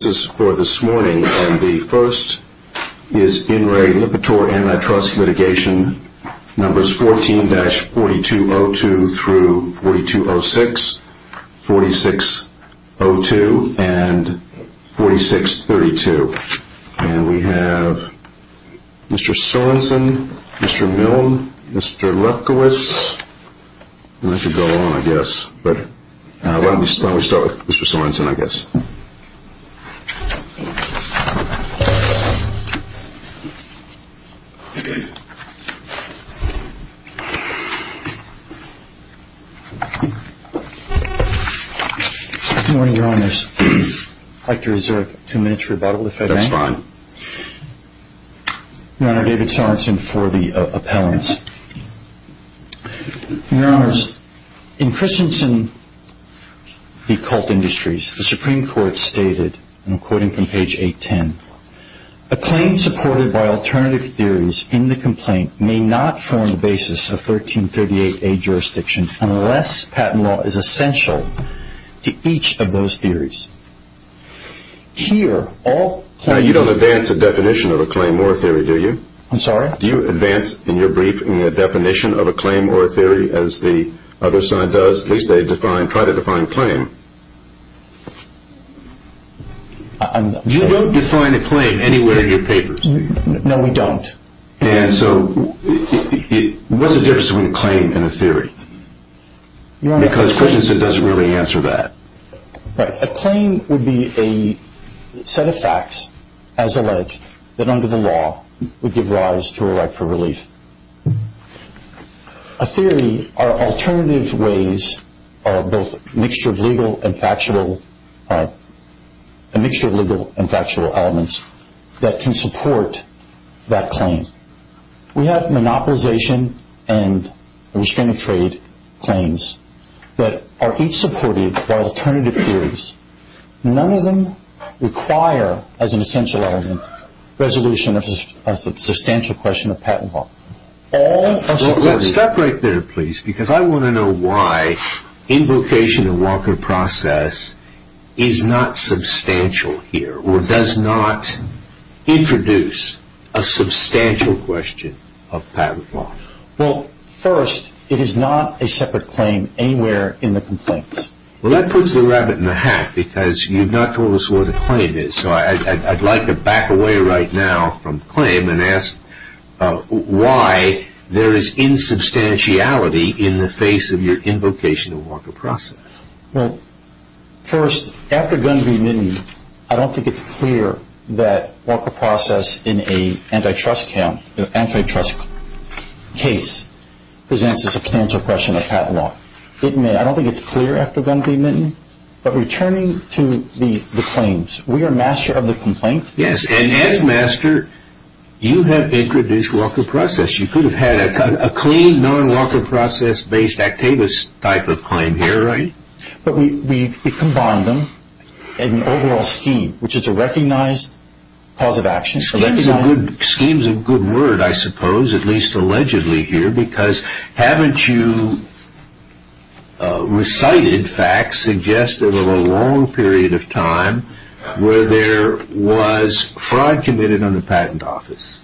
This is for this morning, and the first is In Re Lipitor Antitrust Litigation numbers 14-4202-4206, 4602, and 4632. And we have Mr. Sorensen, Mr. Milne, Mr. Lefkowitz. And this should go on, I guess, but why don't we start with Mr. Sorensen, I guess. Good morning, Your Honors. I'd like to reserve two minutes for rebuttal, if that's okay. That's fine. Your Honor, David Sorensen for the appellants. Your Honors, in Christensen v. Colt Industries, the Supreme Court stated, and I'm quoting from page 810, a claim supported by alternative theories in the complaint may not form the basis of 1338A jurisdiction unless patent law is essential to each of those theories. Here, all claims... Now, you don't advance a definition of a claim or a theory, do you? I'm sorry? Do you advance, in your brief, a definition of a claim or a theory as the other side does? At least they try to define claim. You don't define a claim anywhere in your papers, do you? No, we don't. And so what's the difference between a claim and a theory? Your Honor... Because Christensen doesn't really answer that. Right. A claim would be a set of facts, as alleged, that under the law would give rise to a right for relief. A theory are alternative ways, both a mixture of legal and factual elements, that can support that claim. We have monopolization and restraining trade claims that are each supported by alternative theories. None of them require, as an essential element, resolution of a substantial question of patent law. Let's stop right there, please, because I want to know why invocation of Walker Process is not substantial here, or does not introduce a substantial question of patent law. Well, first, it is not a separate claim anywhere in the complaints. Well, that puts the rabbit in the hat, because you've not told us what a claim is. So I'd like to back away right now from claim and ask why there is insubstantiality in the face of your invocation of Walker Process. Well, first, after Gunn v. Minton, I don't think it's clear that Walker Process in an antitrust case presents a substantial question of patent law. I don't think it's clear after Gunn v. Minton. But returning to the claims, we are master of the complaint. Yes, and as master, you have introduced Walker Process. You could have had a clean, non-Walker Process-based Actavis type of claim here, right? But we've combined them as an overall scheme, which is a recognized cause of action. Scheme is a good word, I suppose, at least allegedly here, because haven't you recited facts suggestive of a long period of time where there was fraud committed on the patent office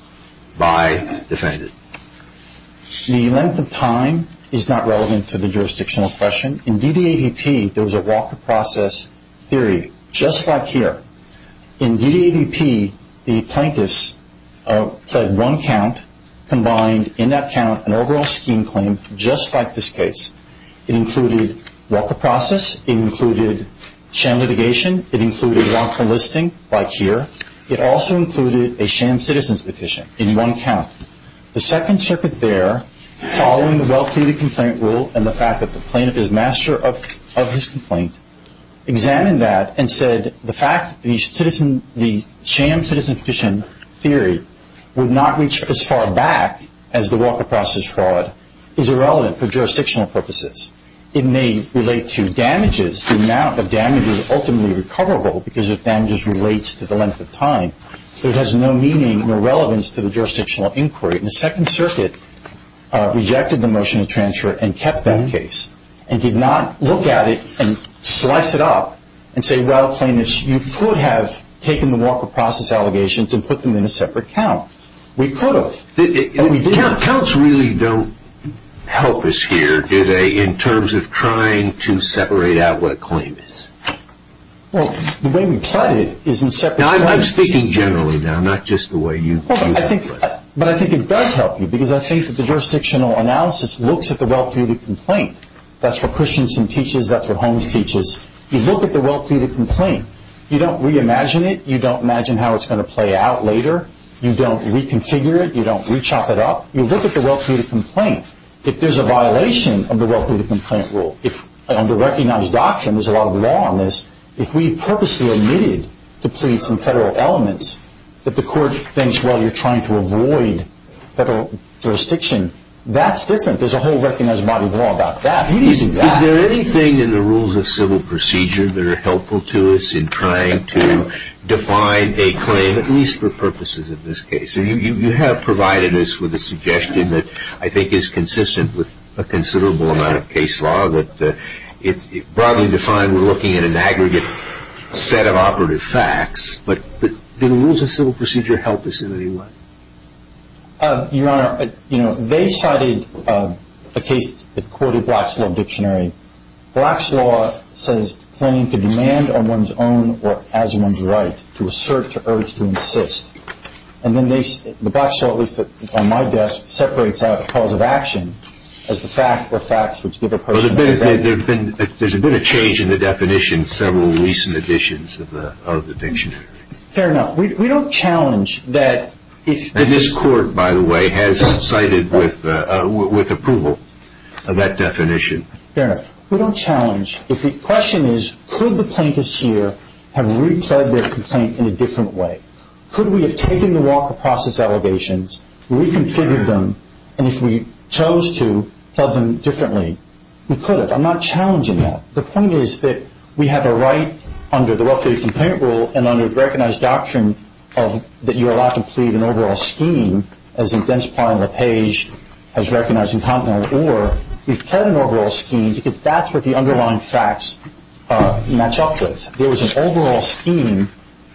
by defendants? The length of time is not relevant to the jurisdictional question. In D.D.A.V.P., there was a Walker Process theory, just like here. In D.D.A.V.P., the plaintiffs pled one count, combined in that count an overall scheme claim just like this case. It included Walker Process. It included sham litigation. It included walk-through listing, like here. It also included a sham citizens petition in one count. The Second Circuit there, following the well-pleaded complaint rule and the fact that the plaintiff is master of his complaint, examined that and said the fact that the sham citizens petition theory would not reach as far back as the Walker Process fraud is irrelevant for jurisdictional purposes. It may relate to damages, the amount of damages ultimately recoverable because the damages relates to the length of time, but it has no meaning or relevance to the jurisdictional inquiry. And the Second Circuit rejected the motion of transfer and kept that case and did not look at it and slice it up and say, well, plaintiffs, you could have taken the Walker Process allegations and put them in a separate count. We could have, and we didn't. Counts really don't help us here, do they, in terms of trying to separate out what a claim is? Well, the way we plied it is in separate counts. But I think it does help you because I think that the jurisdictional analysis looks at the well-pleaded complaint. That's what Christiansen teaches. That's what Holmes teaches. You look at the well-pleaded complaint. You don't reimagine it. You don't imagine how it's going to play out later. You don't reconfigure it. You don't rechop it up. You look at the well-pleaded complaint. If there's a violation of the well-pleaded complaint rule, if under recognized doctrine, there's a lot of law on this, if we purposely omitted the pleads and federal elements that the court thinks, well, you're trying to avoid federal jurisdiction, that's different. There's a whole recognized body of law about that. We didn't do that. Is there anything in the rules of civil procedure that are helpful to us in trying to define a claim, at least for purposes of this case? You have provided us with a suggestion that I think is consistent with a considerable amount of case law. It's broadly defined. We're looking at an aggregate set of operative facts. But do the rules of civil procedure help us in any way? Your Honor, they cited a case that quoted Black's Law Dictionary. Black's Law says, Claiming to demand on one's own or as one's right to assert or urge to insist. And then the Black's Law, at least on my desk, separates out the cause of action as the fact or facts which give a person a right. There's been a change in the definition in several recent editions of the dictionary. Fair enough. We don't challenge that. And this court, by the way, has cited with approval of that definition. Fair enough. We don't challenge. The question is, could the plaintiffs here have repled their complaint in a different way? Could we have taken the walk of process allegations, reconfigured them, and if we chose to, held them differently? We could have. I'm not challenging that. The point is that we have a right under the Well-Faith Complaint Rule and under the recognized doctrine that you're allowed to plead an overall scheme, as in dense part on the page, as recognized incontinent, or we've pled an overall scheme because that's what the underlying facts match up with. There was an overall scheme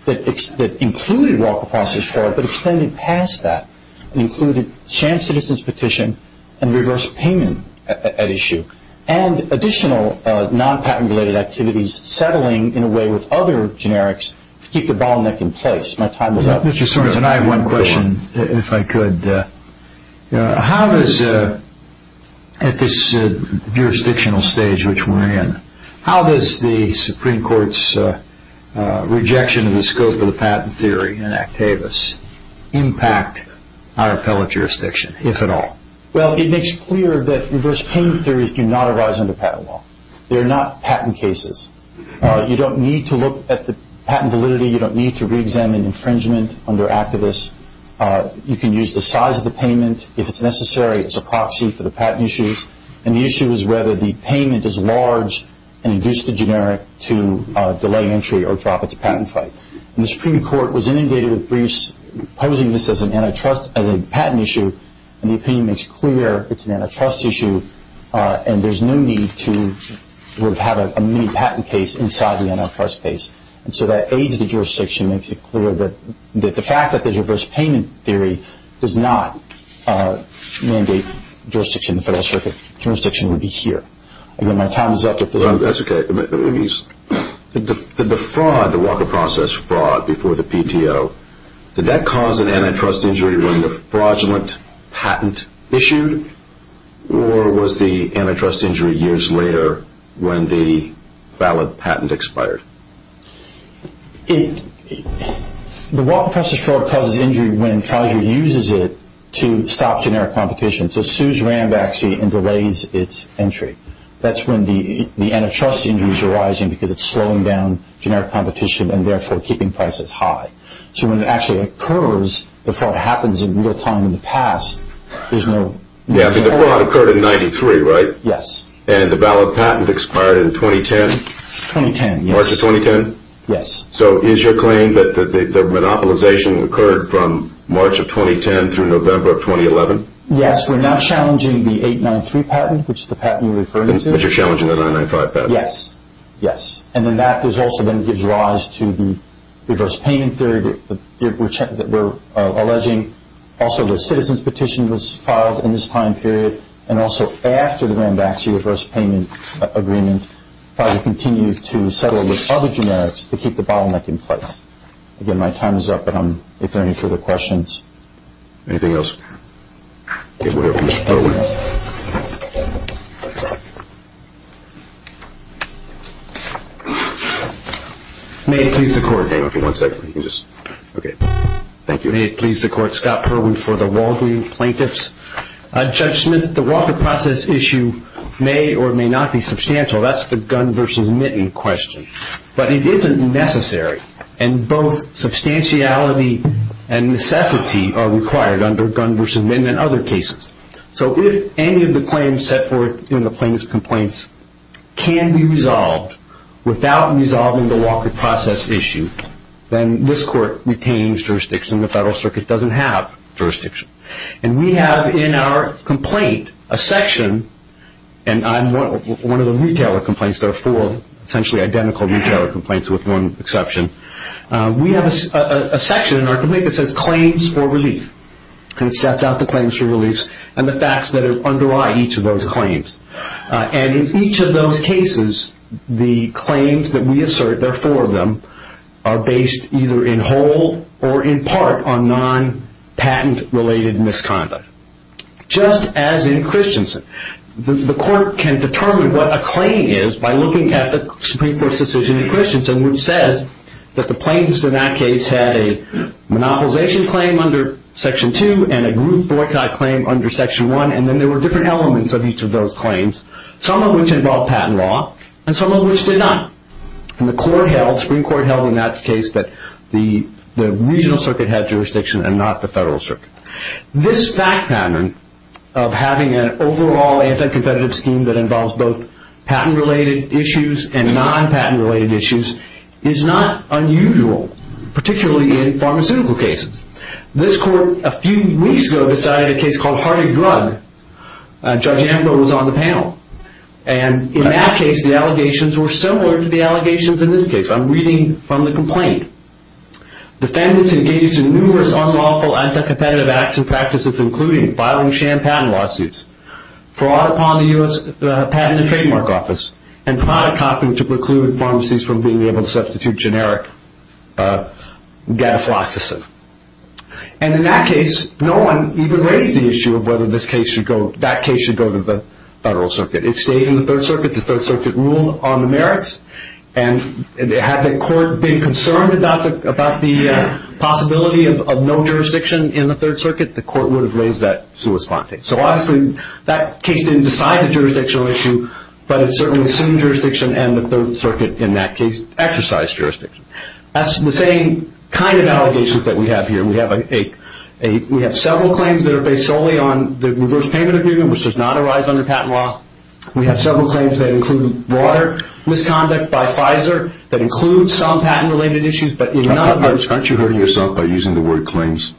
that included walk of process fraud but extended past that and included sham citizen's petition and reverse payment at issue and additional non-patent-related activities settling in a way with other generics to keep the bottleneck in place. My time is up. Mr. Sorensen, I have one question, if I could. How does, at this jurisdictional stage which we're in, how does the Supreme Court's rejection of the scope of the patent theory in Actavis impact our appellate jurisdiction, if at all? Well, it makes clear that reverse payment theories do not arise under patent law. They're not patent cases. You don't need to look at the patent validity. You don't need to re-examine infringement under Actavis. You can use the size of the payment. If it's necessary, it's a proxy for the patent issues. And the issue is whether the payment is large and induce the generic to delay entry or drop it to patent fight. And the Supreme Court was inundated with briefs posing this as a patent issue, and the opinion makes clear it's an antitrust issue and there's no need to have a mini-patent case inside the antitrust case. And so that aids the jurisdiction, makes it clear that the fact that the reverse payment theory does not mandate jurisdiction in the Federal Circuit, jurisdiction would be here. Again, my time is up. That's okay. The fraud, the Walker Process fraud before the PTO, did that cause an antitrust injury when the fraudulent patent issued, or was the antitrust injury years later when the valid patent expired? The Walker Process fraud causes injury when Pfizer uses it to stop generic competition. So it sues Rambaxi and delays its entry. That's when the antitrust injuries are rising because it's slowing down generic competition and therefore keeping prices high. So when it actually occurs, the fraud happens in real time in the past. The fraud occurred in 1993, right? Yes. And the valid patent expired in 2010? 2010, yes. March of 2010? Yes. So is your claim that the monopolization occurred from March of 2010 through November of 2011? Yes. We're now challenging the 893 patent, which is the patent you're referring to. Which you're challenging the 995 patent. Yes. And then that also gives rise to the reverse payment theory that we're alleging. Also, the citizen's petition was filed in this time period, and also after the Rambaxi reverse payment agreement, Pfizer continued to settle with other generics to keep the bottleneck in place. Again, my time is up, but if there are any further questions. Anything else? Okay, we're going to close. May it please the Court. Okay, one second. Thank you. May it please the Court. Scott Perwin for the Walgreens Plaintiffs. Judge Smith, the Walker process issue may or may not be substantial. That's the gun versus mitten question. But it isn't necessary. And both substantiality and necessity are required under gun versus mitten and other cases. So if any of the claims set forth in the plaintiff's complaints can be resolved without resolving the Walker process issue, then this Court retains jurisdiction. The Federal Circuit doesn't have jurisdiction. And we have in our complaint a section, and I'm one of the retailer complaints. There are four essentially identical retailer complaints with one exception. We have a section in our complaint that says claims for relief, and it sets out the claims for relief and the facts that underlie each of those claims. And in each of those cases, the claims that we assert, there are four of them, are based either in whole or in part on non-patent-related misconduct, just as in Christensen. The Court can determine what a claim is by looking at the Supreme Court's decision in Christensen, which says that the plaintiffs in that case had a monopolization claim under Section 2 and a group boycott claim under Section 1, and then there were different elements of each of those claims, some of which involved patent law and some of which did not. And the Supreme Court held in that case that the regional circuit had jurisdiction and not the Federal Circuit. This fact pattern of having an overall anti-competitive scheme that involves both patent-related issues and non-patent-related issues is not unusual, particularly in pharmaceutical cases. This Court, a few weeks ago, decided a case called Heartache Drug. Judge Ambrose was on the panel. And in that case, the allegations were similar to the allegations in this case. I'm reading from the complaint. Defendants engaged in numerous unlawful anti-competitive acts and practices, including filing sham patent lawsuits, fraud upon the U.S. Patent and Trademark Office, and product copying to preclude pharmacies from being able to substitute generic gadafloxacin. And in that case, no one even raised the issue of whether that case should go to the Federal Circuit. It stayed in the Third Circuit. The Third Circuit ruled on the merits. And had the Court been concerned about the possibility of no jurisdiction in the Third Circuit, the Court would have raised that sui sponte. So obviously that case didn't decide the jurisdictional issue, but it certainly assumed jurisdiction and the Third Circuit, in that case, exercised jurisdiction. That's the same kind of allegations that we have here. We have several claims that are based solely on the reverse payment agreement, which does not arise under patent law. We have several claims that include broader misconduct by Pfizer, that include some patent-related issues, but in none of those... Aren't you hurting yourself by using the word claims?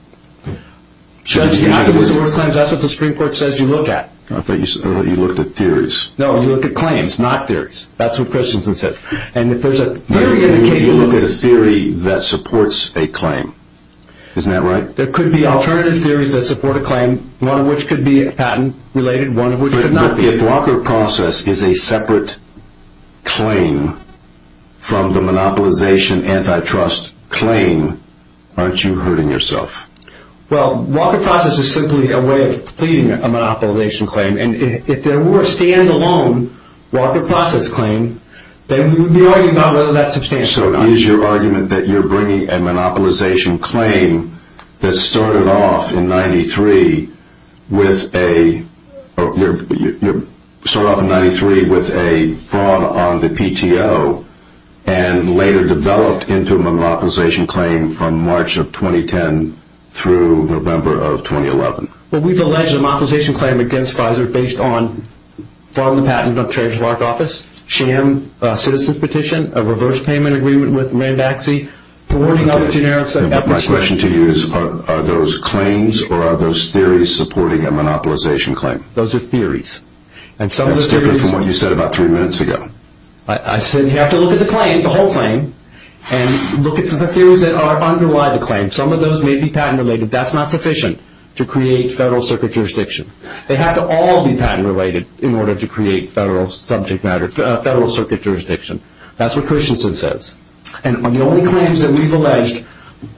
Judge, you have to use the word claims. That's what the Supreme Court says you look at. I thought you looked at theories. No, you look at claims, not theories. That's what Christensen said. And if there's a theory... You look at a theory that supports a claim. Isn't that right? There could be alternative theories that support a claim, one of which could be patent-related, one of which could not be. But if Walker Process is a separate claim from the monopolization antitrust claim, aren't you hurting yourself? Well, Walker Process is simply a way of pleading a monopolization claim. And if there were a stand-alone Walker Process claim, then we would be arguing about whether that's substantial or not. So is your argument that you're bringing a monopolization claim that started off in 1993 with a fraud on the PTO and later developed into a monopolization claim from March of 2010 through November of 2011? Well, we've alleged a monopolization claim against Pfizer based on fraud on the patent of Treasurer's office, sham citizen's petition, a reverse payment agreement with Randaxi, thwarting other generics... My question to you is, are those claims or are those theories supporting a monopolization claim? Those are theories. That's different from what you said about three minutes ago. I said you have to look at the claim, the whole claim, and look at the theories that underlie the claim. Some of those may be patent-related. But that's not sufficient to create Federal Circuit jurisdiction. They have to all be patent-related in order to create Federal Circuit jurisdiction. That's what Christensen says. And the only claims that we've alleged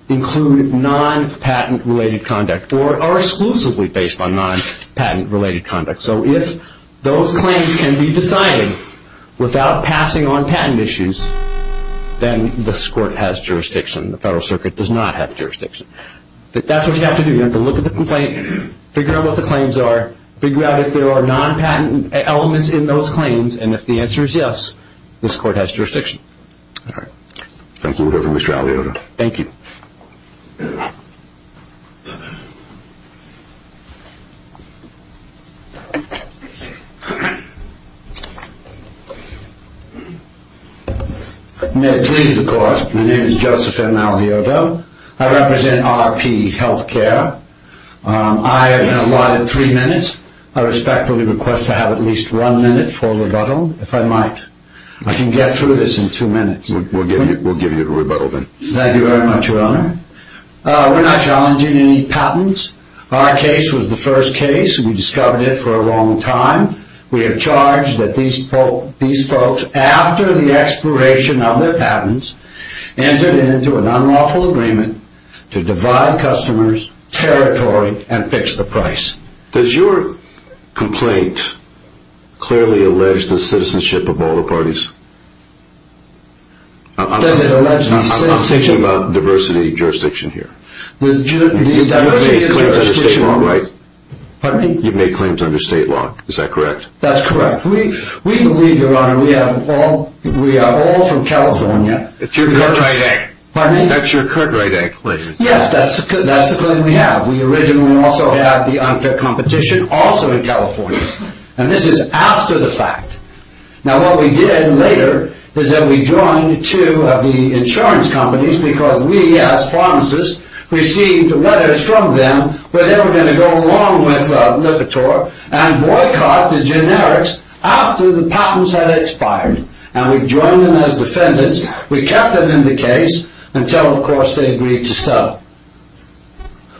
include non-patent-related conduct or are exclusively based on non-patent-related conduct. So if those claims can be decided without passing on patent issues, The Federal Circuit does not have jurisdiction. That's what you have to do. You have to look at the complaint, figure out what the claims are, figure out if there are non-patent elements in those claims, and if the answer is yes, this Court has jurisdiction. All right. Thank you, Mr. Aliotta. Thank you. May it please the Court, my name is Joseph M. Aliotta. I represent RP Healthcare. I have been allotted three minutes. I respectfully request to have at least one minute for rebuttal, if I might. I can get through this in two minutes. We'll give you the rebuttal then. Thank you very much, Your Honor. We're not challenging any patents. Our case was the first case. We discovered it for a long time. We have charged that these folks, after the expiration of their patents, entered into an unlawful agreement to divide customers, territory, and fix the price. Does your complaint clearly allege the citizenship of all the parties? Does it allege the citizenship? I'm thinking about diversity of jurisdiction here. The diversity of jurisdiction. You've made claims under state law, right? Pardon me? You've made claims under state law. Is that correct? That's correct. We believe, Your Honor, we are all from California. Pardon me? That's your current right of claim. Yes, that's the claim we have. We originally also had the unfair competition, also in California. And this is after the fact. Now, what we did later is that we joined two of the insurance companies because we, as pharmacists, received letters from them where they were going to go along with Lipitor and boycott the generics after the patents had expired. And we joined them as defendants. We kept them in the case until, of course, they agreed to sell.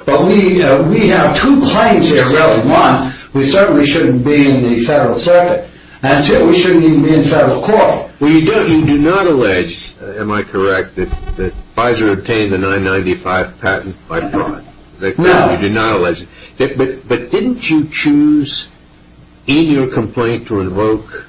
But we have two claims here, really. One, we certainly shouldn't be in the federal circuit. And two, we shouldn't even be in federal court. Well, you do not allege, am I correct, that Pfizer obtained the 995 patent by fraud? No. You do not allege it. But didn't you choose in your complaint to invoke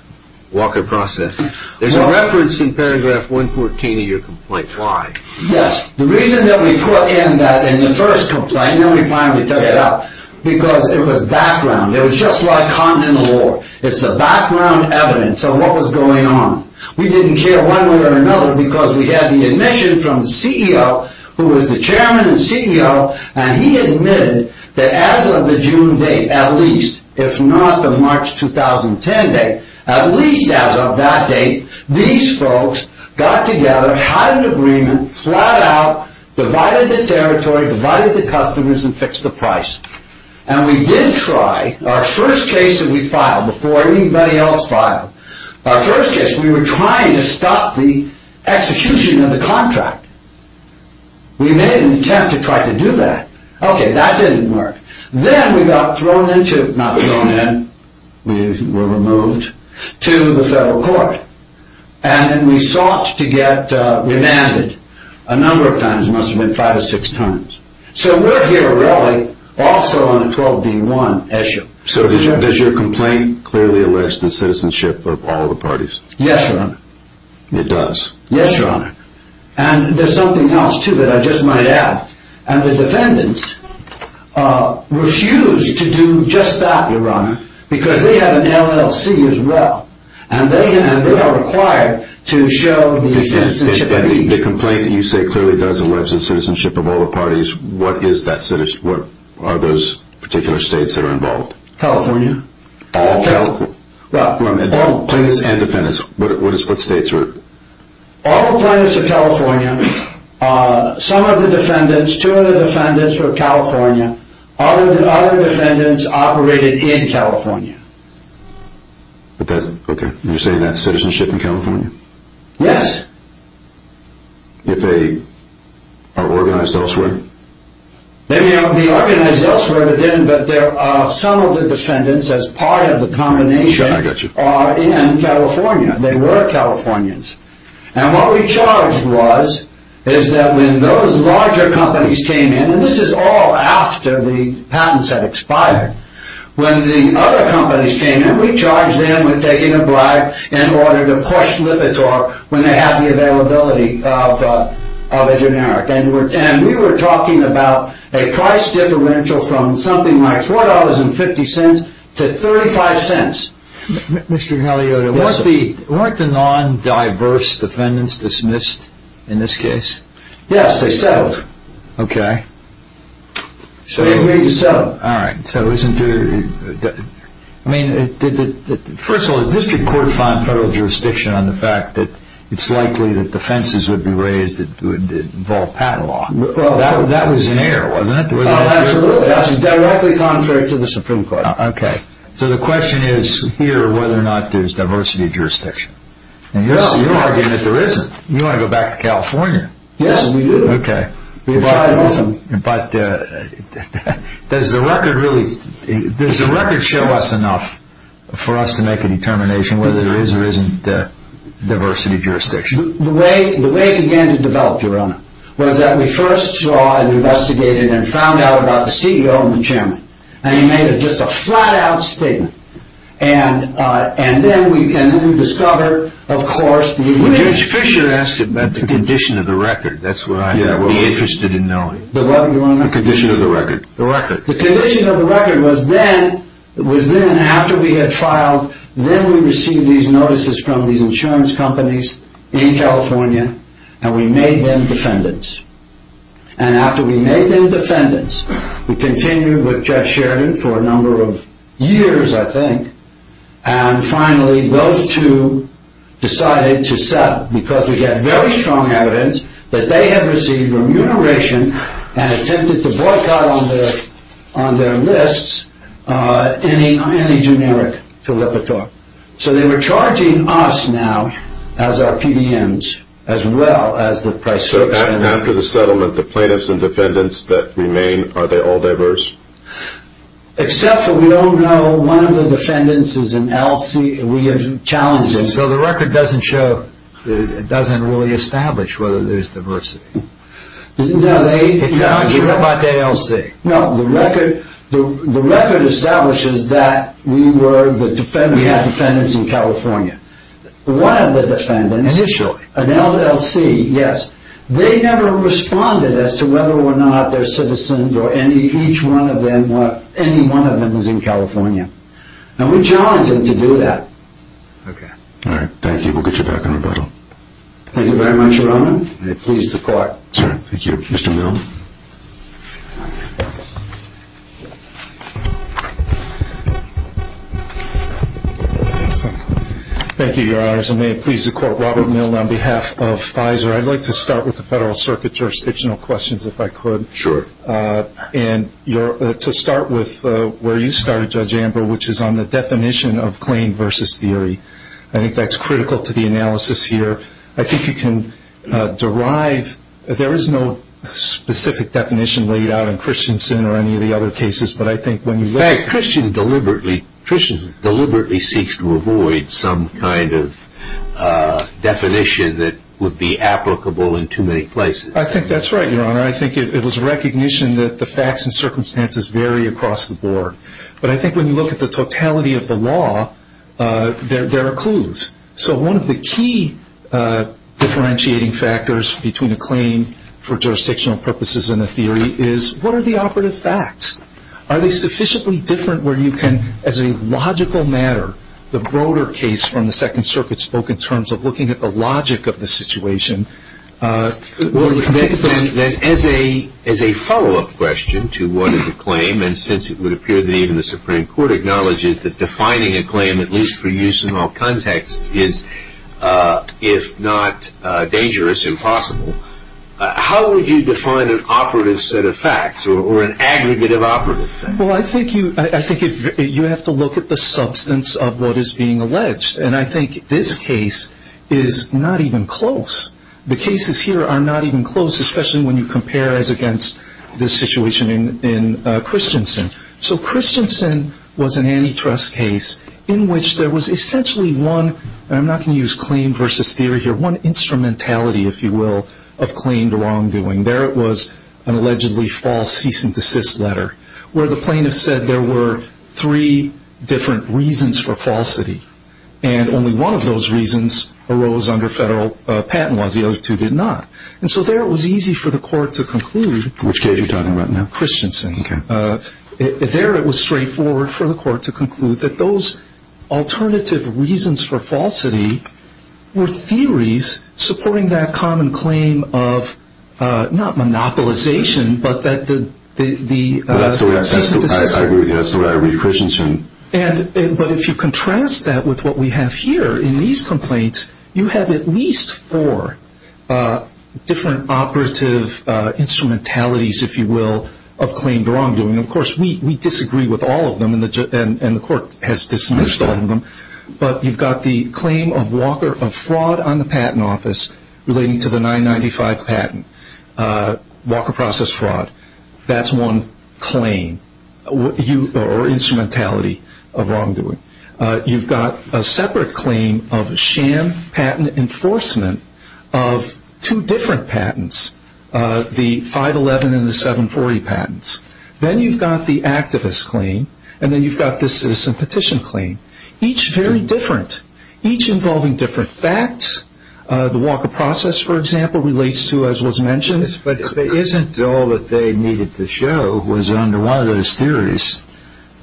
Walker Process? There's a reference in paragraph 114 of your complaint. Why? Yes. The reason that we put in that in the first complaint, and then we finally took it out, because it was background. It was just like continental law. It's the background evidence of what was going on. We didn't care one way or another because we had the admission from the CEO, who was the chairman and CEO, and he admitted that as of the June date, at least, if not the March 2010 date, at least as of that date, these folks got together, had an agreement, flat out, divided the territory, divided the customers, and fixed the price. And we did try. Our first case that we filed before anybody else filed, our first case, we were trying to stop the execution of the contract. We made an attempt to try to do that. Okay, that didn't work. Then we got thrown into, not thrown in, we were removed, to the federal court. And we sought to get remanded. A number of times. It must have been five or six times. So we're here, really, also on a 12-B-1 issue. So does your complaint clearly allege the citizenship of all the parties? Yes, Your Honor. It does? Yes, Your Honor. And there's something else, too, that I just might add. And the defendants refused to do just that, Your Honor, because they have an LLC as well, and they are required to show the citizenship. The complaint that you say clearly does allege the citizenship of all the parties, what are those particular states that are involved? California. All California? Well, plaintiffs and defendants. What states are involved? All the plaintiffs are California. Some of the defendants, two of the defendants were California. Other defendants operated in California. Okay. You're saying that's citizenship in California? Yes. If they are organized elsewhere? They may not be organized elsewhere, but some of the defendants, as part of the combination, are in California. They were Californians. And what we charged was is that when those larger companies came in, and this is all after the patents had expired, when the other companies came in, we charged them with taking a bribe in order to push Lipitor when they had the availability of a generic. And we were talking about a price differential from something like $4.50 to $0.35. Mr. Galeota, weren't the non-diverse defendants dismissed in this case? Yes, they settled. Okay. They agreed to settle. All right. First of all, the district court found federal jurisdiction on the fact that it's likely that defenses would be raised that would involve patent law. That was in error, wasn't it? Absolutely. That's directly contrary to the Supreme Court. Okay. So the question is here whether or not there's diversity of jurisdiction. You're arguing that there isn't. You want to go back to California. Yes, we do. Okay. But does the record show us enough for us to make a determination whether there is or isn't diversity of jurisdiction? The way it began to develop, Your Honor, was that we first saw and investigated and found out about the CEO and the chairman. And he made just a flat-out statement. And then we discovered, of course, the image. Well, Judge Fischer asked about the condition of the record. That's what I'd be interested in knowing. The what, Your Honor? The condition of the record. The record. The condition of the record was then, after we had filed, then we received these notices from these insurance companies in California, and we made them defendants. And after we made them defendants, we continued with Judge Sheridan for a number of years, I think. And finally, those two decided to settle because we had very strong evidence that they had received remuneration and attempted to boycott on their lists any generic caliper talk. So they were charging us now as our PDMs as well as the price checks. After the settlement, the plaintiffs and defendants that remain, are they all diverse? Except for we don't know. One of the defendants is an LLC. We have challenged them. So the record doesn't show, doesn't really establish whether there's diversity. If you're not sure about the LLC. No, the record establishes that we were the defendants. We had defendants in California. One of the defendants. Initially. An LLC, yes. They never responded as to whether or not their citizens or any, each one of them or any one of them was in California. And we challenged them to do that. Okay. All right, thank you. We'll get you back in rebuttal. Thank you very much, Your Honor. I'm pleased to court. Thank you. Mr. Mill. Thank you, Your Honors. I'm pleased to court Robert Mill on behalf of Pfizer. I'd like to start with the Federal Circuit jurisdictional questions, if I could. Sure. And to start with where you started, Judge Amber, which is on the definition of claim versus theory. I think that's critical to the analysis here. I think you can derive, there is no specific definition laid out in Christensen or any of the other cases, but I think when you look at it. In fact, Christensen deliberately seeks to avoid some kind of definition that would be applicable in too many places. I think that's right, Your Honor. I think it was recognition that the facts and circumstances vary across the board. But I think when you look at the totality of the law, there are clues. So one of the key differentiating factors between a claim for jurisdictional purposes and a theory is what are the operative facts? Are they sufficiently different where you can, as a logical matter, the broader case from the Second Circuit spoke in terms of looking at the logic of the situation. Well, then as a follow-up question to what is a claim, and since it would appear that even the Supreme Court acknowledges that defining a claim, at least for use in all contexts, is if not dangerous, impossible, how would you define an operative set of facts or an aggregate of operative facts? Well, I think you have to look at the substance of what is being alleged. And I think this case is not even close. The cases here are not even close, especially when you compare as against the situation in Christensen. So Christensen was an antitrust case in which there was essentially one, and I'm not going to use claim versus theory here, one instrumentality, if you will, of claimed wrongdoing. There it was an allegedly false cease and desist letter where the plaintiff said there were three different reasons for falsity. And only one of those reasons arose under federal patent laws. The other two did not. And so there it was easy for the court to conclude. Which case are you talking about now? Christensen. There it was straightforward for the court to conclude that those alternative reasons for falsity were theories supporting that common claim of not monopolization but that the cease and desist. I agree with you. That's the way I read Christensen. But if you contrast that with what we have here in these complaints, you have at least four different operative instrumentalities, if you will, of claimed wrongdoing. Of course, we disagree with all of them, and the court has dismissed all of them. But you've got the claim of Walker of fraud on the patent office relating to the 995 patent, Walker process fraud. That's one claim or instrumentality of wrongdoing. You've got a separate claim of sham patent enforcement of two different patents, the 511 and the 740 patents. Then you've got the activist claim, and then you've got the citizen petition claim. Each very different. Each involving different facts. The Walker process, for example, relates to, as was mentioned. But isn't all that they needed to show was under one of those theories,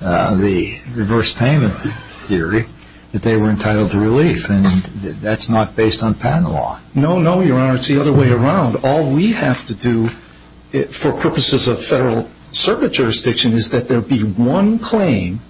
the reverse payment theory, that they were entitled to relief? And that's not based on patent law. No, no, Your Honor. It's the other way around. All we have to do for purposes of federal circuit jurisdiction is that there be one claim.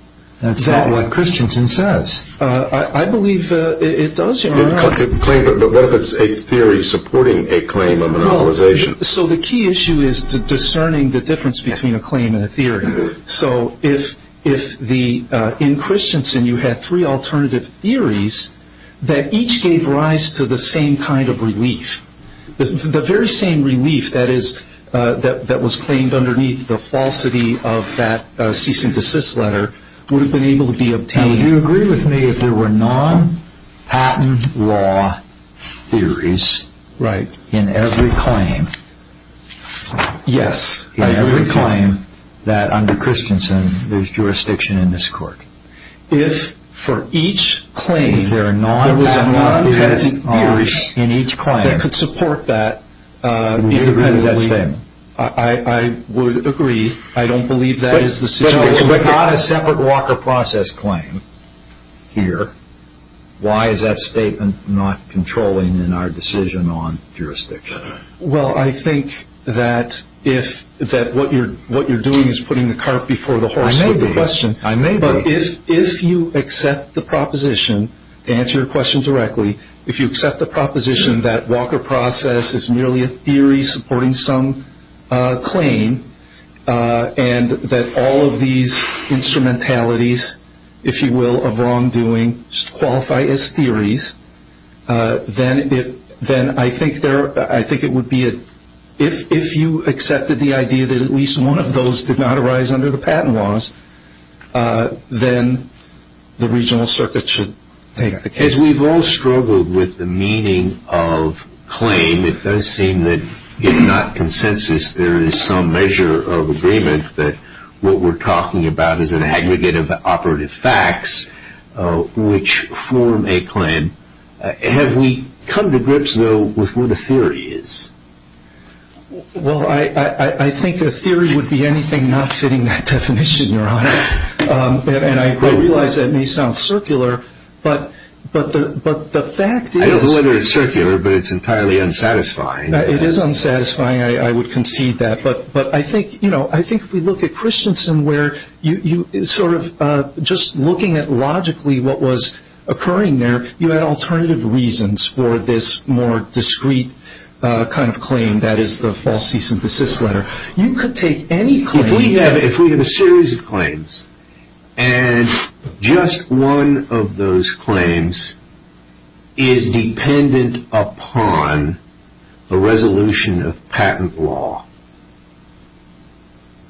That's not what Christensen says. I believe it does, Your Honor. But what if it's a theory supporting a claim of monopolization? So the key issue is discerning the difference between a claim and a theory. So if in Christensen you had three alternative theories that each gave rise to the same kind of relief, the very same relief that was claimed underneath the falsity of that cease and desist letter would have been able to be obtained. Now, would you agree with me if there were non-patent law theories in every claim? Yes. In every claim that under Christensen there's jurisdiction in this court. If for each claim there are non-patent law theories in each claim that could support that independently, I would agree. I don't believe that is the situation. But if it's not a separate walker process claim here, why is that statement not controlling in our decision on jurisdiction? Well, I think that what you're doing is putting the cart before the horse. I made the question. I made the question. But if you accept the proposition, to answer your question directly, if you accept the proposition that walker process is merely a theory supporting some claim and that all of these instrumentalities, if you will, of wrongdoing qualify as theories, then I think it would be, if you accepted the idea that at least one of those did not arise under the patent laws, then the regional circuit should take the case. As we've all struggled with the meaning of claim, it does seem that if not consensus, there is some measure of agreement that what we're talking about is an aggregate of operative facts which form a claim. Have we come to grips, though, with what a theory is? Well, I think a theory would be anything not fitting that definition, Your Honor. And I realize that may sound circular, but the fact is that it's entirely unsatisfying. It is unsatisfying. I would concede that. But I think, you know, I think if we look at Christensen where you sort of just looking at logically what was occurring there, you had alternative reasons for this more discrete kind of claim that is the faulty synthesis letter. You could take any claim. If we have a series of claims and just one of those claims is dependent upon a resolution of patent law,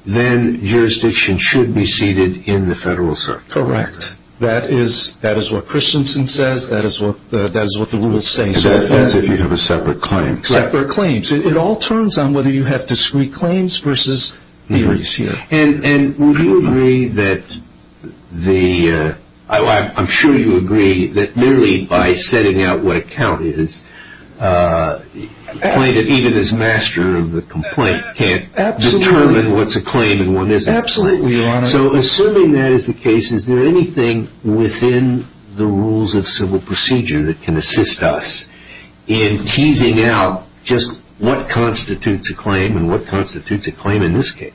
then jurisdiction should be seated in the federal circuit. Correct. That is what Christensen says. That is what the rules say. And that is if you have a separate claim. Separate claims. It all turns on whether you have discrete claims versus theories, you know. And would you agree that the – I'm sure you agree that merely by setting out what a count is, a plaintiff, even as master of the complaint, can't determine what's a claim and what isn't. Absolutely, Your Honor. So assuming that is the case, is there anything within the rules of civil procedure that can assist us in teasing out just what constitutes a claim and what constitutes a claim in this case?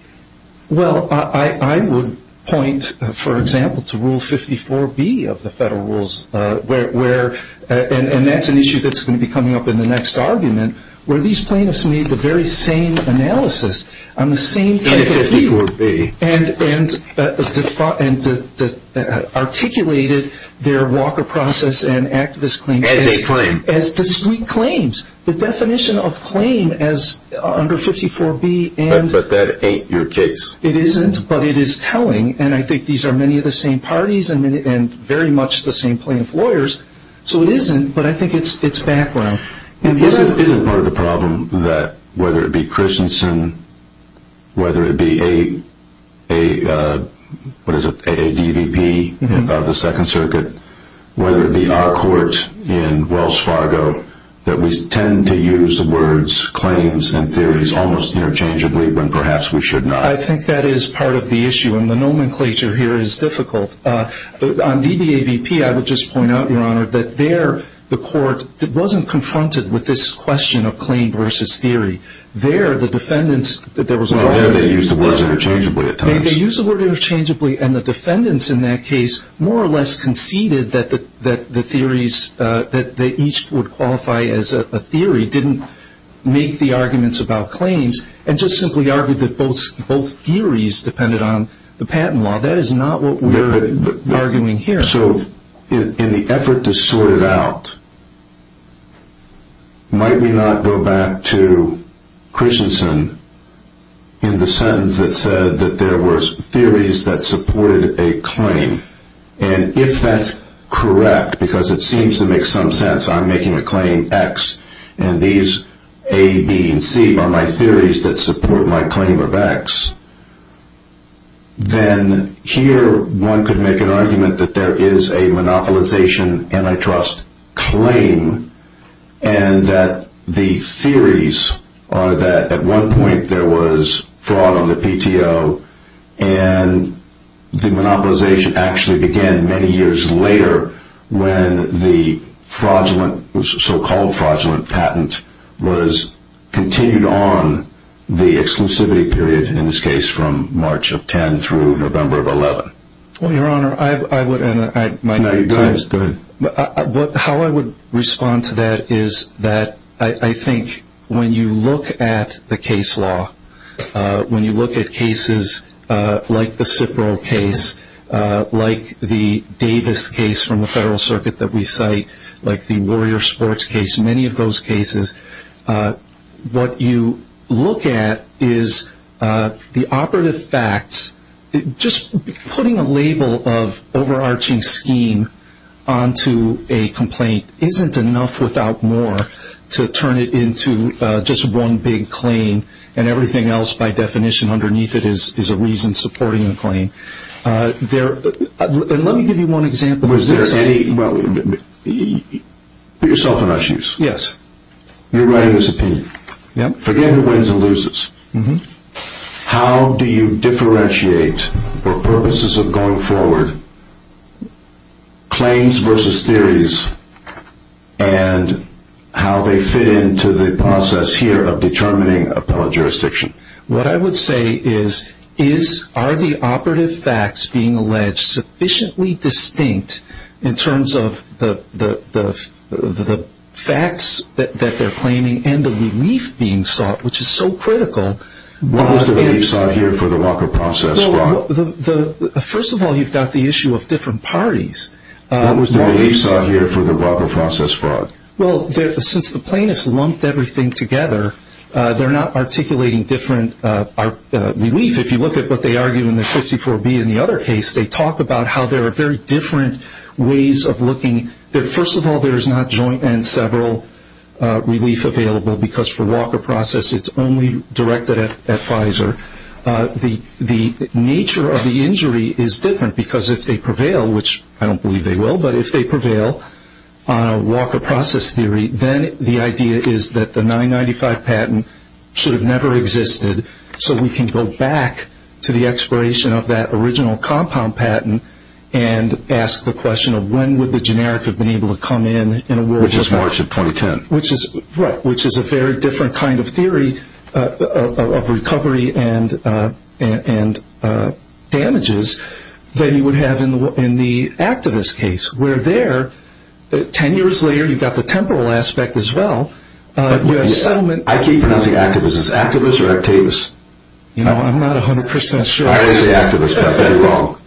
Well, I would point, for example, to Rule 54B of the federal rules, where – and that's an issue that's going to be coming up in the next argument, where these plaintiffs made the very same analysis on the same – In 54B. And articulated their Walker process and activist claims – As discrete claims. As discrete claims. The definition of claim as under 54B and – But that ain't your case. It isn't, but it is telling. And I think these are many of the same parties and very much the same plaintiff lawyers. So it isn't, but I think it's background. Isn't part of the problem that whether it be Christensen, whether it be a – what is it? AADVP of the Second Circuit, whether it be our court in Wells Fargo, that we tend to use the words claims and theories almost interchangeably when perhaps we should not. I think that is part of the issue, and the nomenclature here is difficult. On DDAVP, I would just point out, Your Honor, that there the court wasn't confronted with this question of claim versus theory. There the defendants – They used the words interchangeably at times. They used the word interchangeably, and the defendants in that case more or less conceded that the theories, that they each would qualify as a theory, didn't make the arguments about claims and just simply argued that both theories depended on the patent law. That is not what we're arguing here. So in the effort to sort it out, might we not go back to Christensen in the sentence that said that there were theories that supported a claim, and if that's correct, because it seems to make some sense, I'm making a claim X, and these A, B, and C are my theories that support my claim of X, then here one could make an argument that there is a monopolization antitrust claim, and that the theories are that at one point there was fraud on the PTO, and the monopolization actually began many years later when the so-called fraudulent patent was continued on the exclusivity period, in this case from March of 10 through November of 11. Well, Your Honor, I would – Go ahead. How I would respond to that is that I think when you look at the case law, when you look at cases like the Cipro case, like the Davis case from the Federal Circuit that we cite, like the Warrior Sports case, many of those cases, what you look at is the operative facts, just putting a label of overarching scheme onto a complaint isn't enough without more to turn it into just one big claim, and everything else by definition underneath it is a reason supporting the claim. Let me give you one example. Put yourself in my shoes. Yes. You're writing this opinion. Yep. Forget who wins and loses. How do you differentiate, for purposes of going forward, claims versus theories and how they fit into the process here of determining appellate jurisdiction? What I would say is, are the operative facts being alleged sufficiently distinct in terms of the facts that they're claiming and the relief being sought, which is so critical? What was the relief sought here for the Walker process fraud? First of all, you've got the issue of different parties. What was the relief sought here for the Walker process fraud? Well, since the plaintiffs lumped everything together, they're not articulating different relief. If you look at what they argue in the 54B and the other case, they talk about how there are very different ways of looking. First of all, there's not joint and several relief available, because for Walker process it's only directed at Pfizer. The nature of the injury is different, because if they prevail, which I don't believe they will, but if they prevail on a Walker process theory, then the idea is that the 995 patent should have never existed, so we can go back to the expiration of that original compound patent and ask the question of when would the generic have been able to come in in a world of doubt? Which is March of 2010. Right, which is a very different kind of theory of recovery and damages than you would have in the activist case, where there, 10 years later, you've got the temporal aspect as well. I keep pronouncing activists as activists or activists. I'm not 100% sure. I didn't say activists, but you're wrong.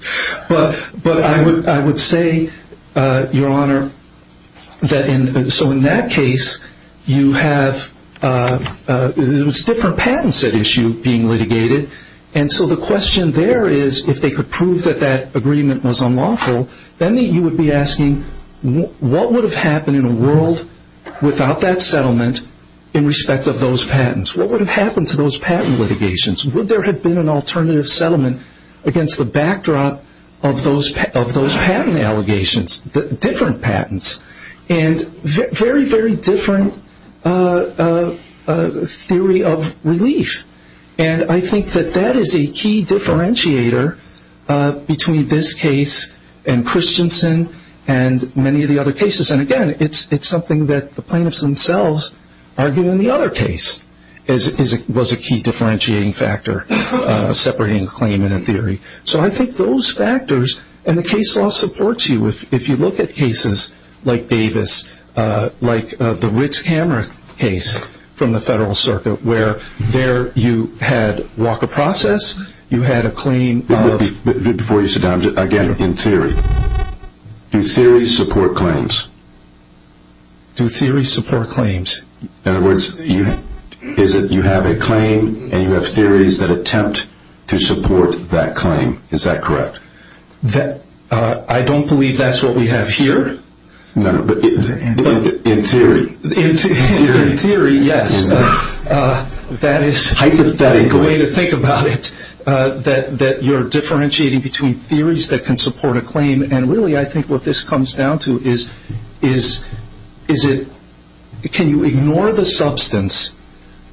But I would say, Your Honor, so in that case, you have different patents at issue being litigated, and so the question there is if they could prove that that agreement was unlawful, then you would be asking what would have happened in a world without that settlement in respect of those patents? What would have happened to those patent litigations? Would there have been an alternative settlement against the backdrop of those patent allegations, different patents, and very, very different theory of relief. And I think that that is a key differentiator between this case and Christensen and many of the other cases. And, again, it's something that the plaintiffs themselves argue in the other case was a key differentiating factor separating a claim and a theory. So I think those factors, and the case law supports you. If you look at cases like Davis, like the Ritz-Cameron case from the Federal Circuit, where there you had walk of process, you had a claim of... But before you sit down, again, in theory, do theories support claims? Do theories support claims? In other words, you have a claim, and you have theories that attempt to support that claim. Is that correct? I don't believe that's what we have here. No, but in theory. In theory, yes. That is a good way to think about it, that you're differentiating between theories that can support a claim. And, really, I think what this comes down to is can you ignore the substance?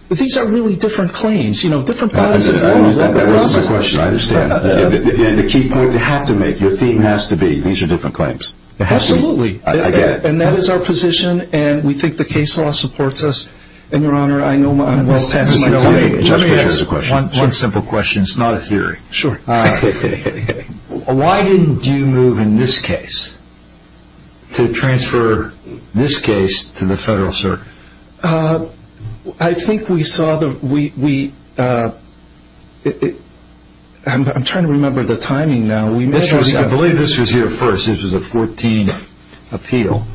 These are really different claims, you know, different bodies of law. That wasn't my question. I understand. The key point you have to make, your theme has to be these are different claims. Absolutely. I get it. And that is our position, and we think the case law supports us. And, Your Honor, I know I'm well past my time. Let me ask one simple question. It's not a theory. Sure. Why didn't you move in this case to transfer this case to the federal circuit? I think we saw the we, I'm trying to remember the timing now. I believe this was your first. This was the 14th appeal.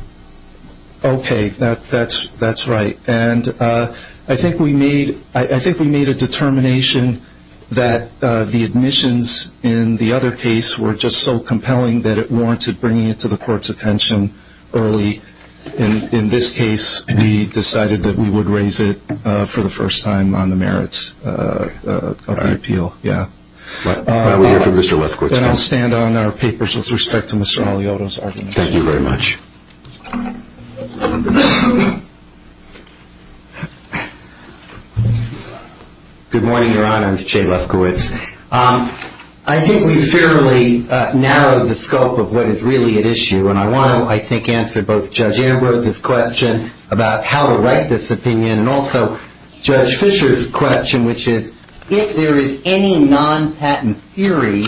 Okay. That's right. And I think we made a determination that the admissions in the other case were just so compelling that it warranted bringing it to the court's attention early. In this case, we decided that we would raise it for the first time on the merits of the appeal. All right. Yeah. While we hear from Mr. Lefkowitz. And I'll stand on our papers with respect to Mr. Alioto's argument. Thank you very much. Good morning, Your Honor. It's Jay Lefkowitz. I think we've fairly narrowed the scope of what is really at issue, and I want to, I think, answer both Judge Ambrose's question about how to write this opinion and also Judge Fisher's question, which is, if there is any non-patent theory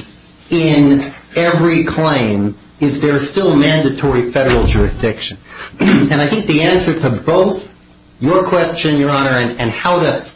in every claim, is there still mandatory federal jurisdiction? And I think the answer to both your question, Your Honor, and how to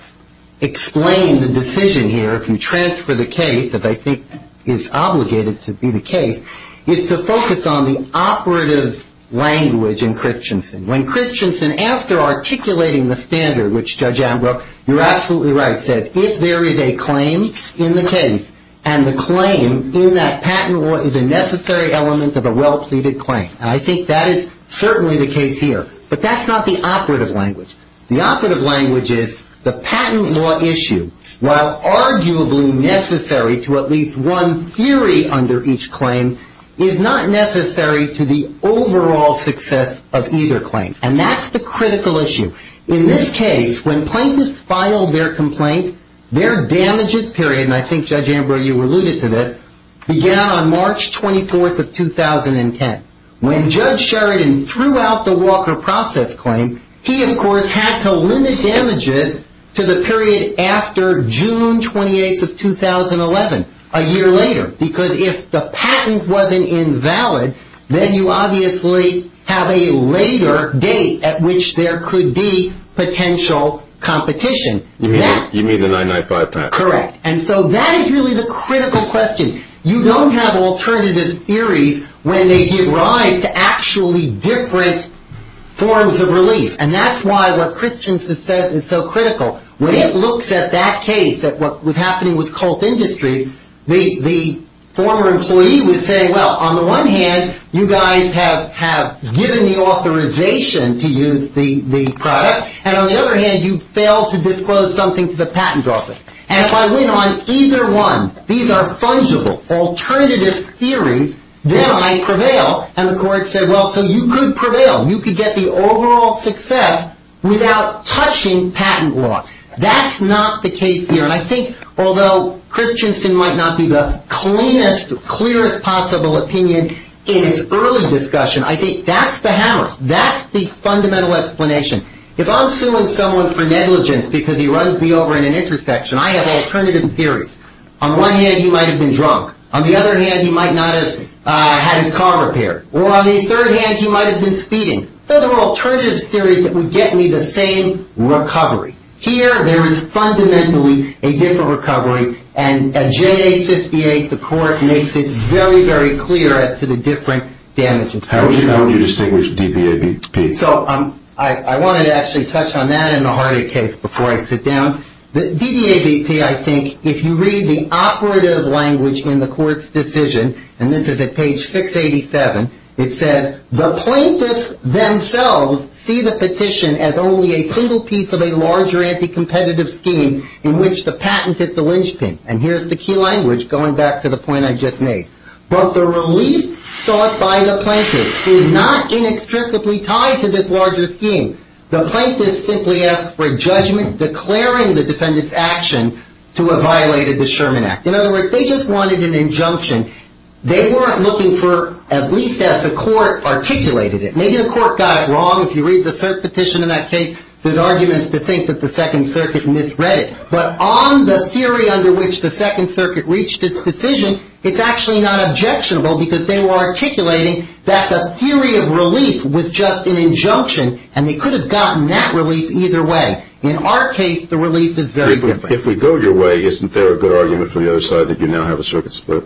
explain the decision here, if you transfer the case, that I think is obligated to be the case, is to focus on the operative language in Christensen. When Christensen, after articulating the standard, which Judge Ambrose, you're absolutely right, says, if there is a claim in the case, and the claim in that patent law is a necessary element of a well-pleaded claim. And I think that is certainly the case here. But that's not the operative language. The operative language is the patent law issue, while arguably necessary to at least one theory under each claim, is not necessary to the overall success of either claim. And that's the critical issue. In this case, when plaintiffs filed their complaint, their damages period, and I think Judge Ambrose, you alluded to this, began on March 24th of 2010. When Judge Sheridan threw out the Walker process claim, he, of course, had to limit damages to the period after June 28th of 2011, a year later. Because if the patent wasn't invalid, then you obviously have a later date at which there could be potential competition. You mean the 995 patent? Correct. And so that is really the critical question. You don't have alternative theories when they give rise to actually different forms of relief. And that's why what Christensen says is so critical. When it looks at that case, that what was happening was Colt Industries, the former employee would say, well, on the one hand, you guys have given me authorization to use the product. And on the other hand, you failed to disclose something to the patent office. And if I win on either one, these are fungible, alternative theories, then I prevail. And the court said, well, so you could prevail. You could get the overall success without touching patent law. That's not the case here. And I think although Christensen might not be the cleanest, clearest possible opinion in its early discussion, I think that's the hammer. That's the fundamental explanation. If I'm suing someone for negligence because he runs me over in an intersection, I have alternative theories. On one hand, he might have been drunk. On the other hand, he might not have had his car repaired. Or on the third hand, he might have been speeding. Those are all alternative theories that would get me the same recovery. Here, there is fundamentally a different recovery. And at J58, the court makes it very, very clear as to the different damages. How would you distinguish DBABP? So I wanted to actually touch on that in the Hardy case before I sit down. DBABP, I think, if you read the operative language in the court's decision, and this is at page 687, it says, the plaintiffs themselves see the petition as only a single piece of a larger anti-competitive scheme in which the patent is the linchpin. And here's the key language, going back to the point I just made. But the relief sought by the plaintiffs is not inextricably tied to this larger scheme. The plaintiffs simply asked for a judgment declaring the defendant's action to have violated the Sherman Act. In other words, they just wanted an injunction. They weren't looking for, at least as the court articulated it. Maybe the court got it wrong. If you read the cert petition in that case, there's arguments to think that the Second Circuit misread it. But on the theory under which the Second Circuit reached its decision, it's actually not objectionable because they were articulating that the theory of relief was just an injunction and they could have gotten that relief either way. In our case, the relief is very different. If we go your way, isn't there a good argument from the other side that you now have a circuit split?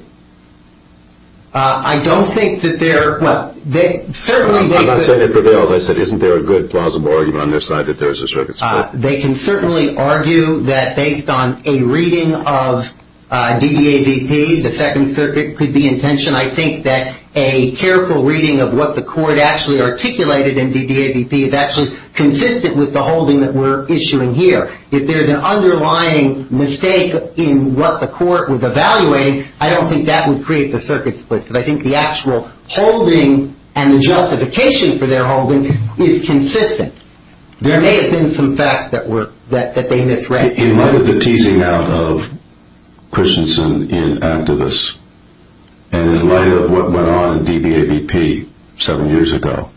I don't think that there are. Well, certainly they could. I'm not saying they prevailed. I said, isn't there a good, plausible argument on their side that there is a circuit split? They can certainly argue that based on a reading of DDAVP, the Second Circuit could be in tension. I think that a careful reading of what the court actually articulated in DDAVP is actually consistent with the holding that we're issuing here. If there's an underlying mistake in what the court was evaluating, I don't think that would create the circuit split because I think the actual holding and the justification for their holding is consistent. There may have been some facts that they misread. In light of the teasing out of Christensen in activists and in light of what went on in DDAVP seven years ago,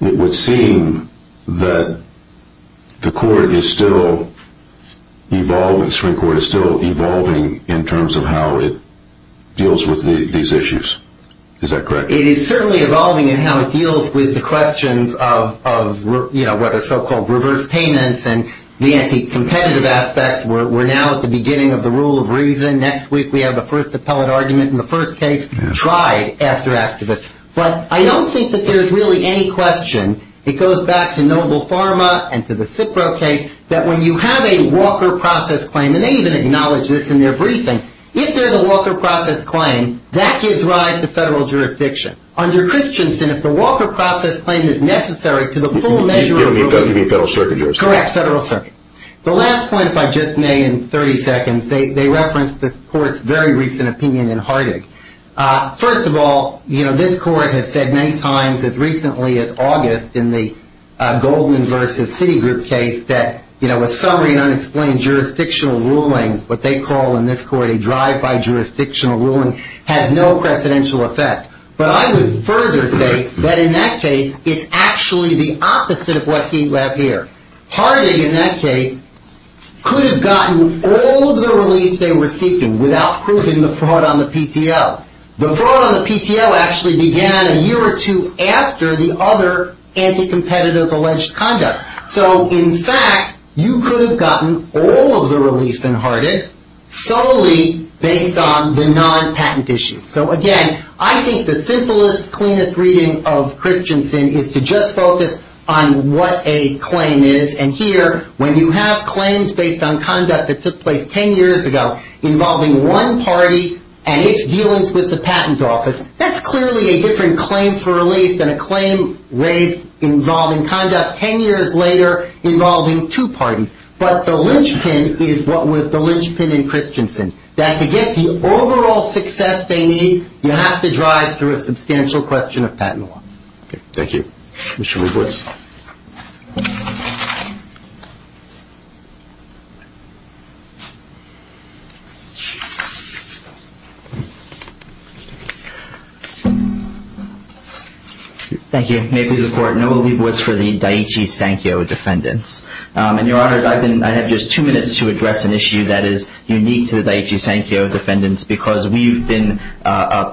it would seem that the Supreme Court is still evolving in terms of how it deals with these issues. Is that correct? It is certainly evolving in how it deals with the questions of what are so-called reverse payments and the anti-competitive aspects. We're now at the beginning of the rule of reason. Next week, we have the first appellate argument in the first case tried after activists. But I don't think that there's really any question. It goes back to Noble Pharma and to the Cipro case that when you have a Walker process claim, and they even acknowledge this in their briefing, if there's a Walker process claim, that gives rise to federal jurisdiction. Under Christensen, if the Walker process claim is necessary to the full measure of... Correct, federal circuit. The last point, if I just may, in 30 seconds, they referenced the court's very recent opinion in Hardig. First of all, this court has said many times as recently as August in the Goldman versus Citigroup case that a summary and unexplained jurisdictional ruling, what they call in this court a drive-by jurisdictional ruling, has no precedential effect. But I would further say that in that case, it's actually the opposite of what we have here. Hardig, in that case, could have gotten all of the relief they were seeking without proving the fraud on the PTO. The fraud on the PTO actually began a year or two after the other anti-competitive alleged conduct. So, in fact, you could have gotten all of the relief in Hardig solely based on the non-patent issues. So, again, I think the simplest, cleanest reading of Christensen is to just focus on what a claim is. And here, when you have claims based on conduct that took place 10 years ago involving one party and its dealings with the patent office, that's clearly a different claim for relief than a claim raised involving conduct 10 years later involving two parties. But the linchpin is what was the linchpin in Christensen. That to get the overall success they need, you have to drive through a substantial question of patent law. Thank you. Mr. Leibowitz. Thank you. May it please the Court, Noel Leibowitz for the Daiichi Sankyo defendants. And, Your Honors, I have just two minutes to address an issue that is unique to the Daiichi Sankyo defendants because we've been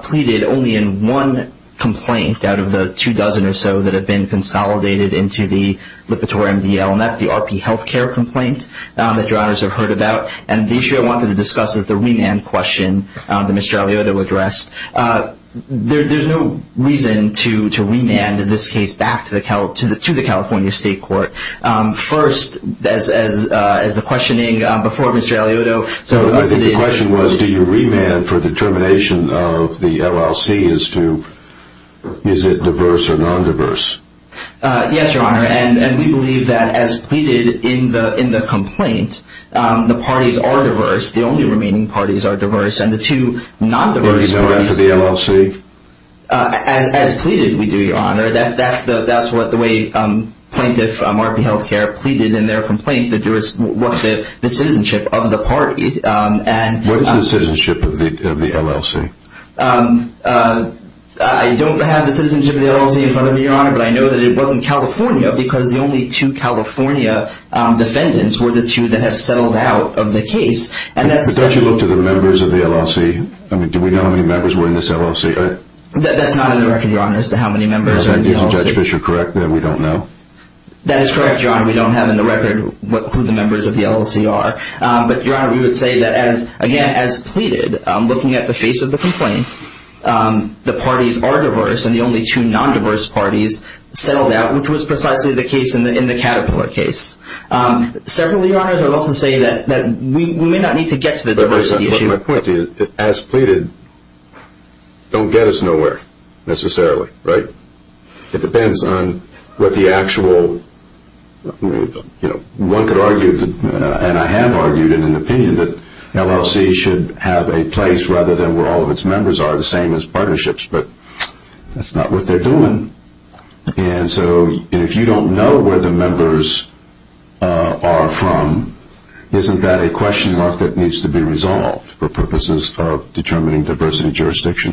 pleaded only in one complaint out of the two dozen or so that have been consolidated into the Lipitor MDL, and that's the RP healthcare complaint that Your Honors have heard about. And the issue I wanted to discuss is the remand question that Mr. Aliotto addressed. There's no reason to remand in this case back to the California State Court. First, as the questioning before Mr. Aliotto. The question was do you remand for determination of the LLC as to is it diverse or non-diverse? Yes, Your Honor, and we believe that as pleaded in the complaint, the parties are diverse. The only remaining parties are diverse, and the two non-diverse parties. Do you remand for the LLC? As pleaded, we do, Your Honor. That's what the plaintiff, RP Healthcare, pleaded in their complaint that there was the citizenship of the party. What is the citizenship of the LLC? I don't have the citizenship of the LLC in front of me, Your Honor, but I know that it was in California because the only two California defendants were the two that have settled out of the case. But don't you look to the members of the LLC? Do we know how many members were in this LLC? That's not in the record, Your Honor, as to how many members are in the LLC. Is Judge Fischer correct that we don't know? That is correct, Your Honor. We don't have in the record who the members of the LLC are. But, Your Honor, we would say that, again, as pleaded, looking at the face of the complaint, the parties are diverse, and the only two non-diverse parties settled out, which was precisely the case in the Caterpillar case. Secondly, Your Honor, I would also say that we may not need to get to the diversity issue. My point is, as pleaded, don't get us nowhere, necessarily, right? It depends on what the actual, you know, one could argue, and I have argued in an opinion, that the LLC should have a place rather than where all of its members are, the same as partnerships. But that's not what they're doing. And so if you don't know where the members are from, isn't that a question mark that needs to be resolved for purposes of determining diversity jurisdiction?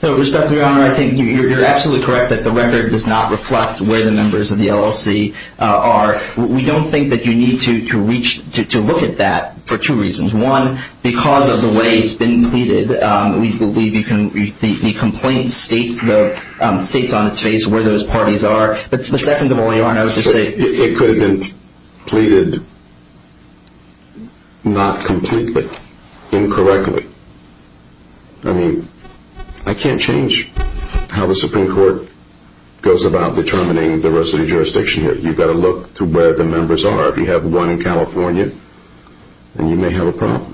With respect, Your Honor, I think you're absolutely correct that the record does not reflect where the members of the LLC are. We don't think that you need to look at that for two reasons. One, because of the way it's been pleaded, the complaint states on its face where those parties are. But secondly, Your Honor, I would just say... It could have been pleaded not completely, incorrectly. I mean, I can't change how the Supreme Court goes about determining diversity jurisdiction here. You've got to look to where the members are. If you have one in California, then you may have a problem.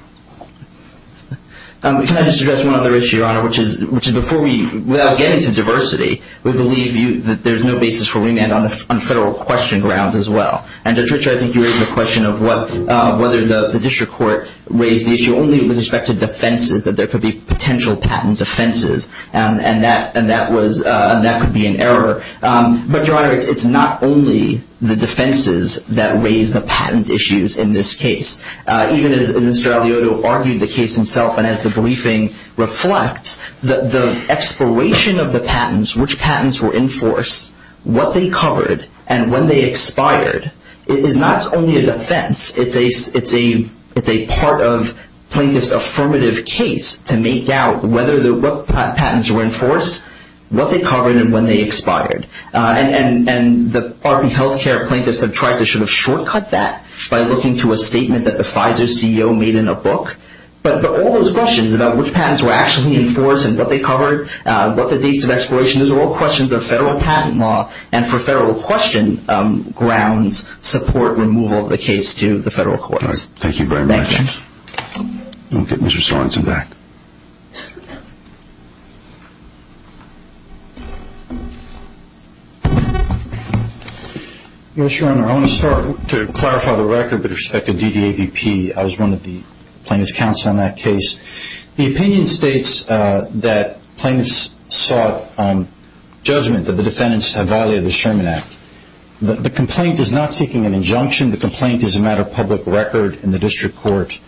Can I just address one other issue, Your Honor, which is before we... Without getting to diversity, we believe that there's no basis for remand on federal question grounds as well. And, Judge Ritcher, I think you raised the question of whether the district court raised the issue only with respect to defenses, that there could be potential patent defenses, and that could be an error. But, Your Honor, it's not only the defenses that raise the patent issues in this case. Even as Mr. Aliotto argued the case himself and as the briefing reflects, the expiration of the patents, which patents were in force, what they covered, and when they expired, is not only a defense. It's a part of plaintiff's affirmative case to make out what patents were in force, what they covered, and when they expired. And the Army health care plaintiffs have tried to sort of shortcut that by looking to a statement that the Pfizer CEO made in a book. But all those questions about which patents were actually in force and what they covered, what the dates of expiration, those are all questions of federal patent law and for federal question grounds support removal of the case to the federal courts. Thank you very much. Thank you. We'll get Mr. Sorensen back. Yes, Your Honor. I want to start to clarify the record with respect to DDAVP. I was one of the plaintiff's counsel in that case. The opinion states that plaintiffs sought judgment that the defendants had violated the Sherman Act. The complaint is not seeking an injunction. The complaint is a matter of public record in the district court.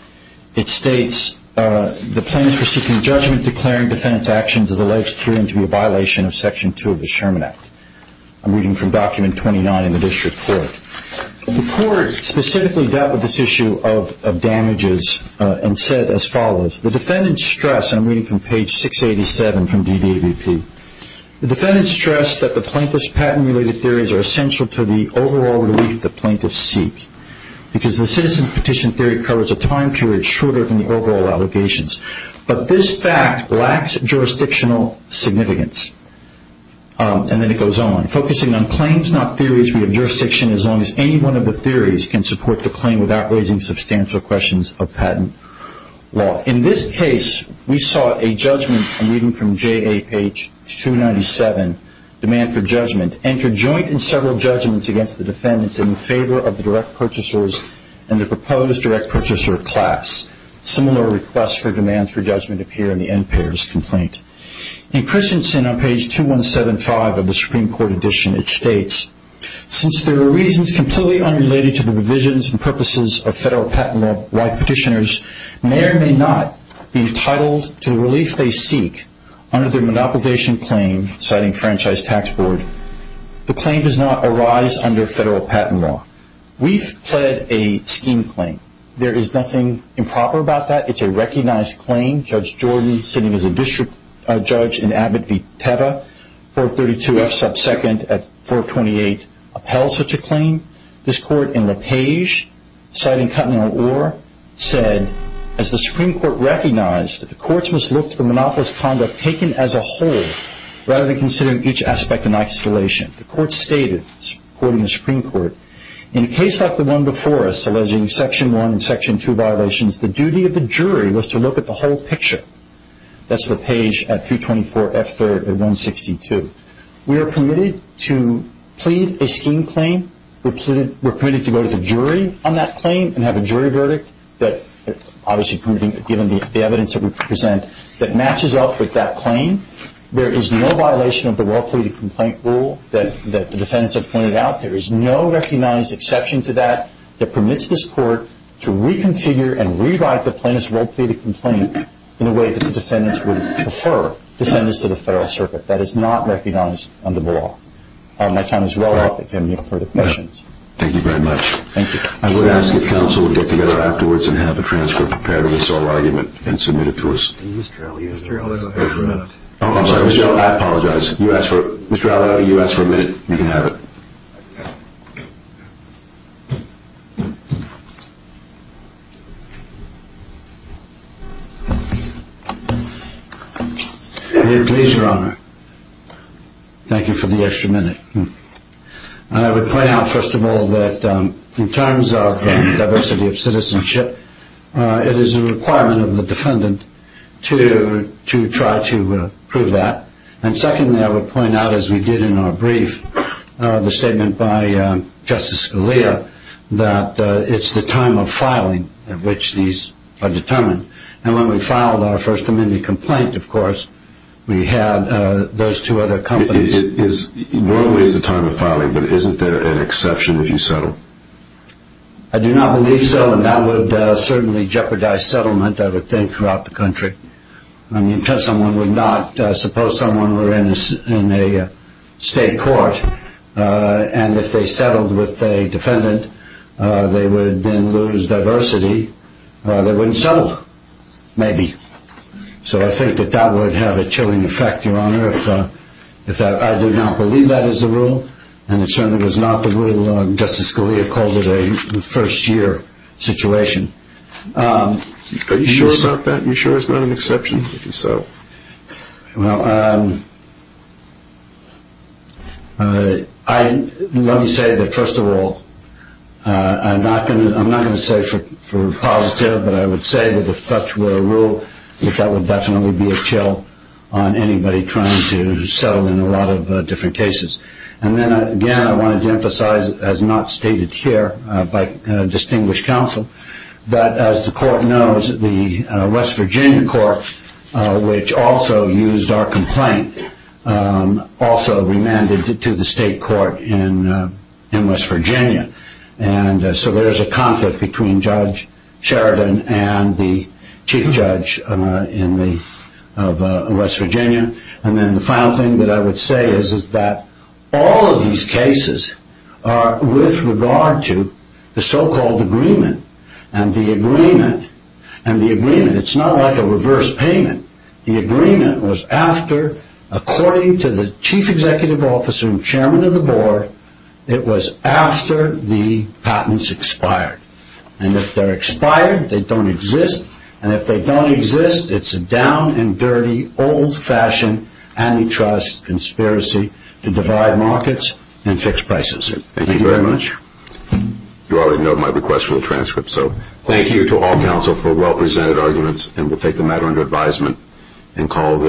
It states the plaintiff is seeking judgment declaring defendant's actions as alleged to be a violation of Section 2 of the Sherman Act. I'm reading from Document 29 in the district court. The court specifically dealt with this issue of damages and said as follows. The defendant stressed, and I'm reading from page 687 from DDAVP, the defendant stressed that the plaintiff's patent-related theories are essential to the overall relief the plaintiffs seek because the citizen petition theory covers a time period shorter than the overall allegations. But this fact lacks jurisdictional significance. And then it goes on. Focusing on claims, not theories, we have jurisdiction as long as any one of the theories can support the claim without raising substantial questions of patent law. In this case, we sought a judgment. I'm reading from JA page 297, demand for judgment. Enter joint and several judgments against the defendants in favor of the direct purchasers and the proposed direct purchaser class. Similar requests for demands for judgment appear in the end payers' complaint. In Christensen on page 2175 of the Supreme Court edition, it states, since there are reasons completely unrelated to the provisions and purposes of federal patent law, why petitioners may or may not be entitled to the relief they seek under their monopolization claim, citing Franchise Tax Board, the claim does not arise under federal patent law. We've pled a scheme claim. There is nothing improper about that. It's a recognized claim. Judge Jordan, sitting as a district judge in Abbott v. Teva, 432F sub 2nd at 428, upheld such a claim. This court in LaPage, citing Cutnell-Orr, said, as the Supreme Court recognized that the courts must look to the monopolist's conduct taken as a whole, rather than considering each aspect in isolation. The court stated, quoting the Supreme Court, in a case like the one before us alleging section 1 and section 2 violations, the duty of the jury was to look at the whole picture. That's LaPage at 324F 3rd at 162. We are permitted to plead a scheme claim. We're permitted to go to the jury on that claim and have a jury verdict that, obviously given the evidence that we present, that matches up with that claim. There is no violation of the well-pleaded complaint rule that the defendants have pointed out. There is no recognized exception to that that permits this court to reconfigure and rewrite the plaintiff's well-pleaded complaint in a way that the defendants would prefer, defendants of the federal circuit. That is not recognized under the law. My time is well up. If you have any further questions. Thank you very much. Thank you. I'm going to ask if counsel would get together afterwards and have a transcript prepared of this whole argument and submit it to us. Please, Mr. Elliott. Mr. Elliott has a minute. Oh, I'm sorry. Mr. Elliott, I apologize. Mr. Elliott, you asked for a minute. You can have it. Please, Your Honor. Thank you for the extra minute. I would point out, first of all, that in terms of diversity of citizenship, it is a requirement of the defendant to try to prove that. And secondly, I would point out, as we did in our brief, the statement by Justice Scalia, that it's the time of filing at which these are determined. And when we filed our First Amendment complaint, of course, we had those two other companies. It is normally the time of filing, but isn't there an exception if you settle? I do not believe so, and that would certainly jeopardize settlement, I would think, throughout the country. I mean, suppose someone were in a state court, and if they settled with a defendant, they would then lose diversity, they wouldn't settle, maybe. So I think that that would have a chilling effect, Your Honor, if I do not believe that is the rule, and it certainly was not the rule Justice Scalia called it a first-year situation. Are you sure about that? Are you sure it's not an exception? Well, let me say that, first of all, I'm not going to say for positive, but I would say that if such were a rule, that that would definitely be a chill on anybody trying to settle in a lot of different cases. And then, again, I wanted to emphasize, as not stated here by distinguished counsel, that as the court knows, the West Virginia court, which also used our complaint, also remanded it to the state court in West Virginia. And so there is a conflict between Judge Sheridan and the chief judge of West Virginia. And then the final thing that I would say is that all of these cases are with regard to the so-called agreement. And the agreement, and the agreement, it's not like a reverse payment. The agreement was after, according to the chief executive officer and chairman of the board, it was after the patents expired. And if they're expired, they don't exist. And if they don't exist, it's a down-and-dirty, old-fashioned antitrust conspiracy to divide markets and fix prices. Thank you very much. You already know my request for the transcript, so thank you to all counsel for well-presented arguments. And we'll take the matter under advisement and call the hearing.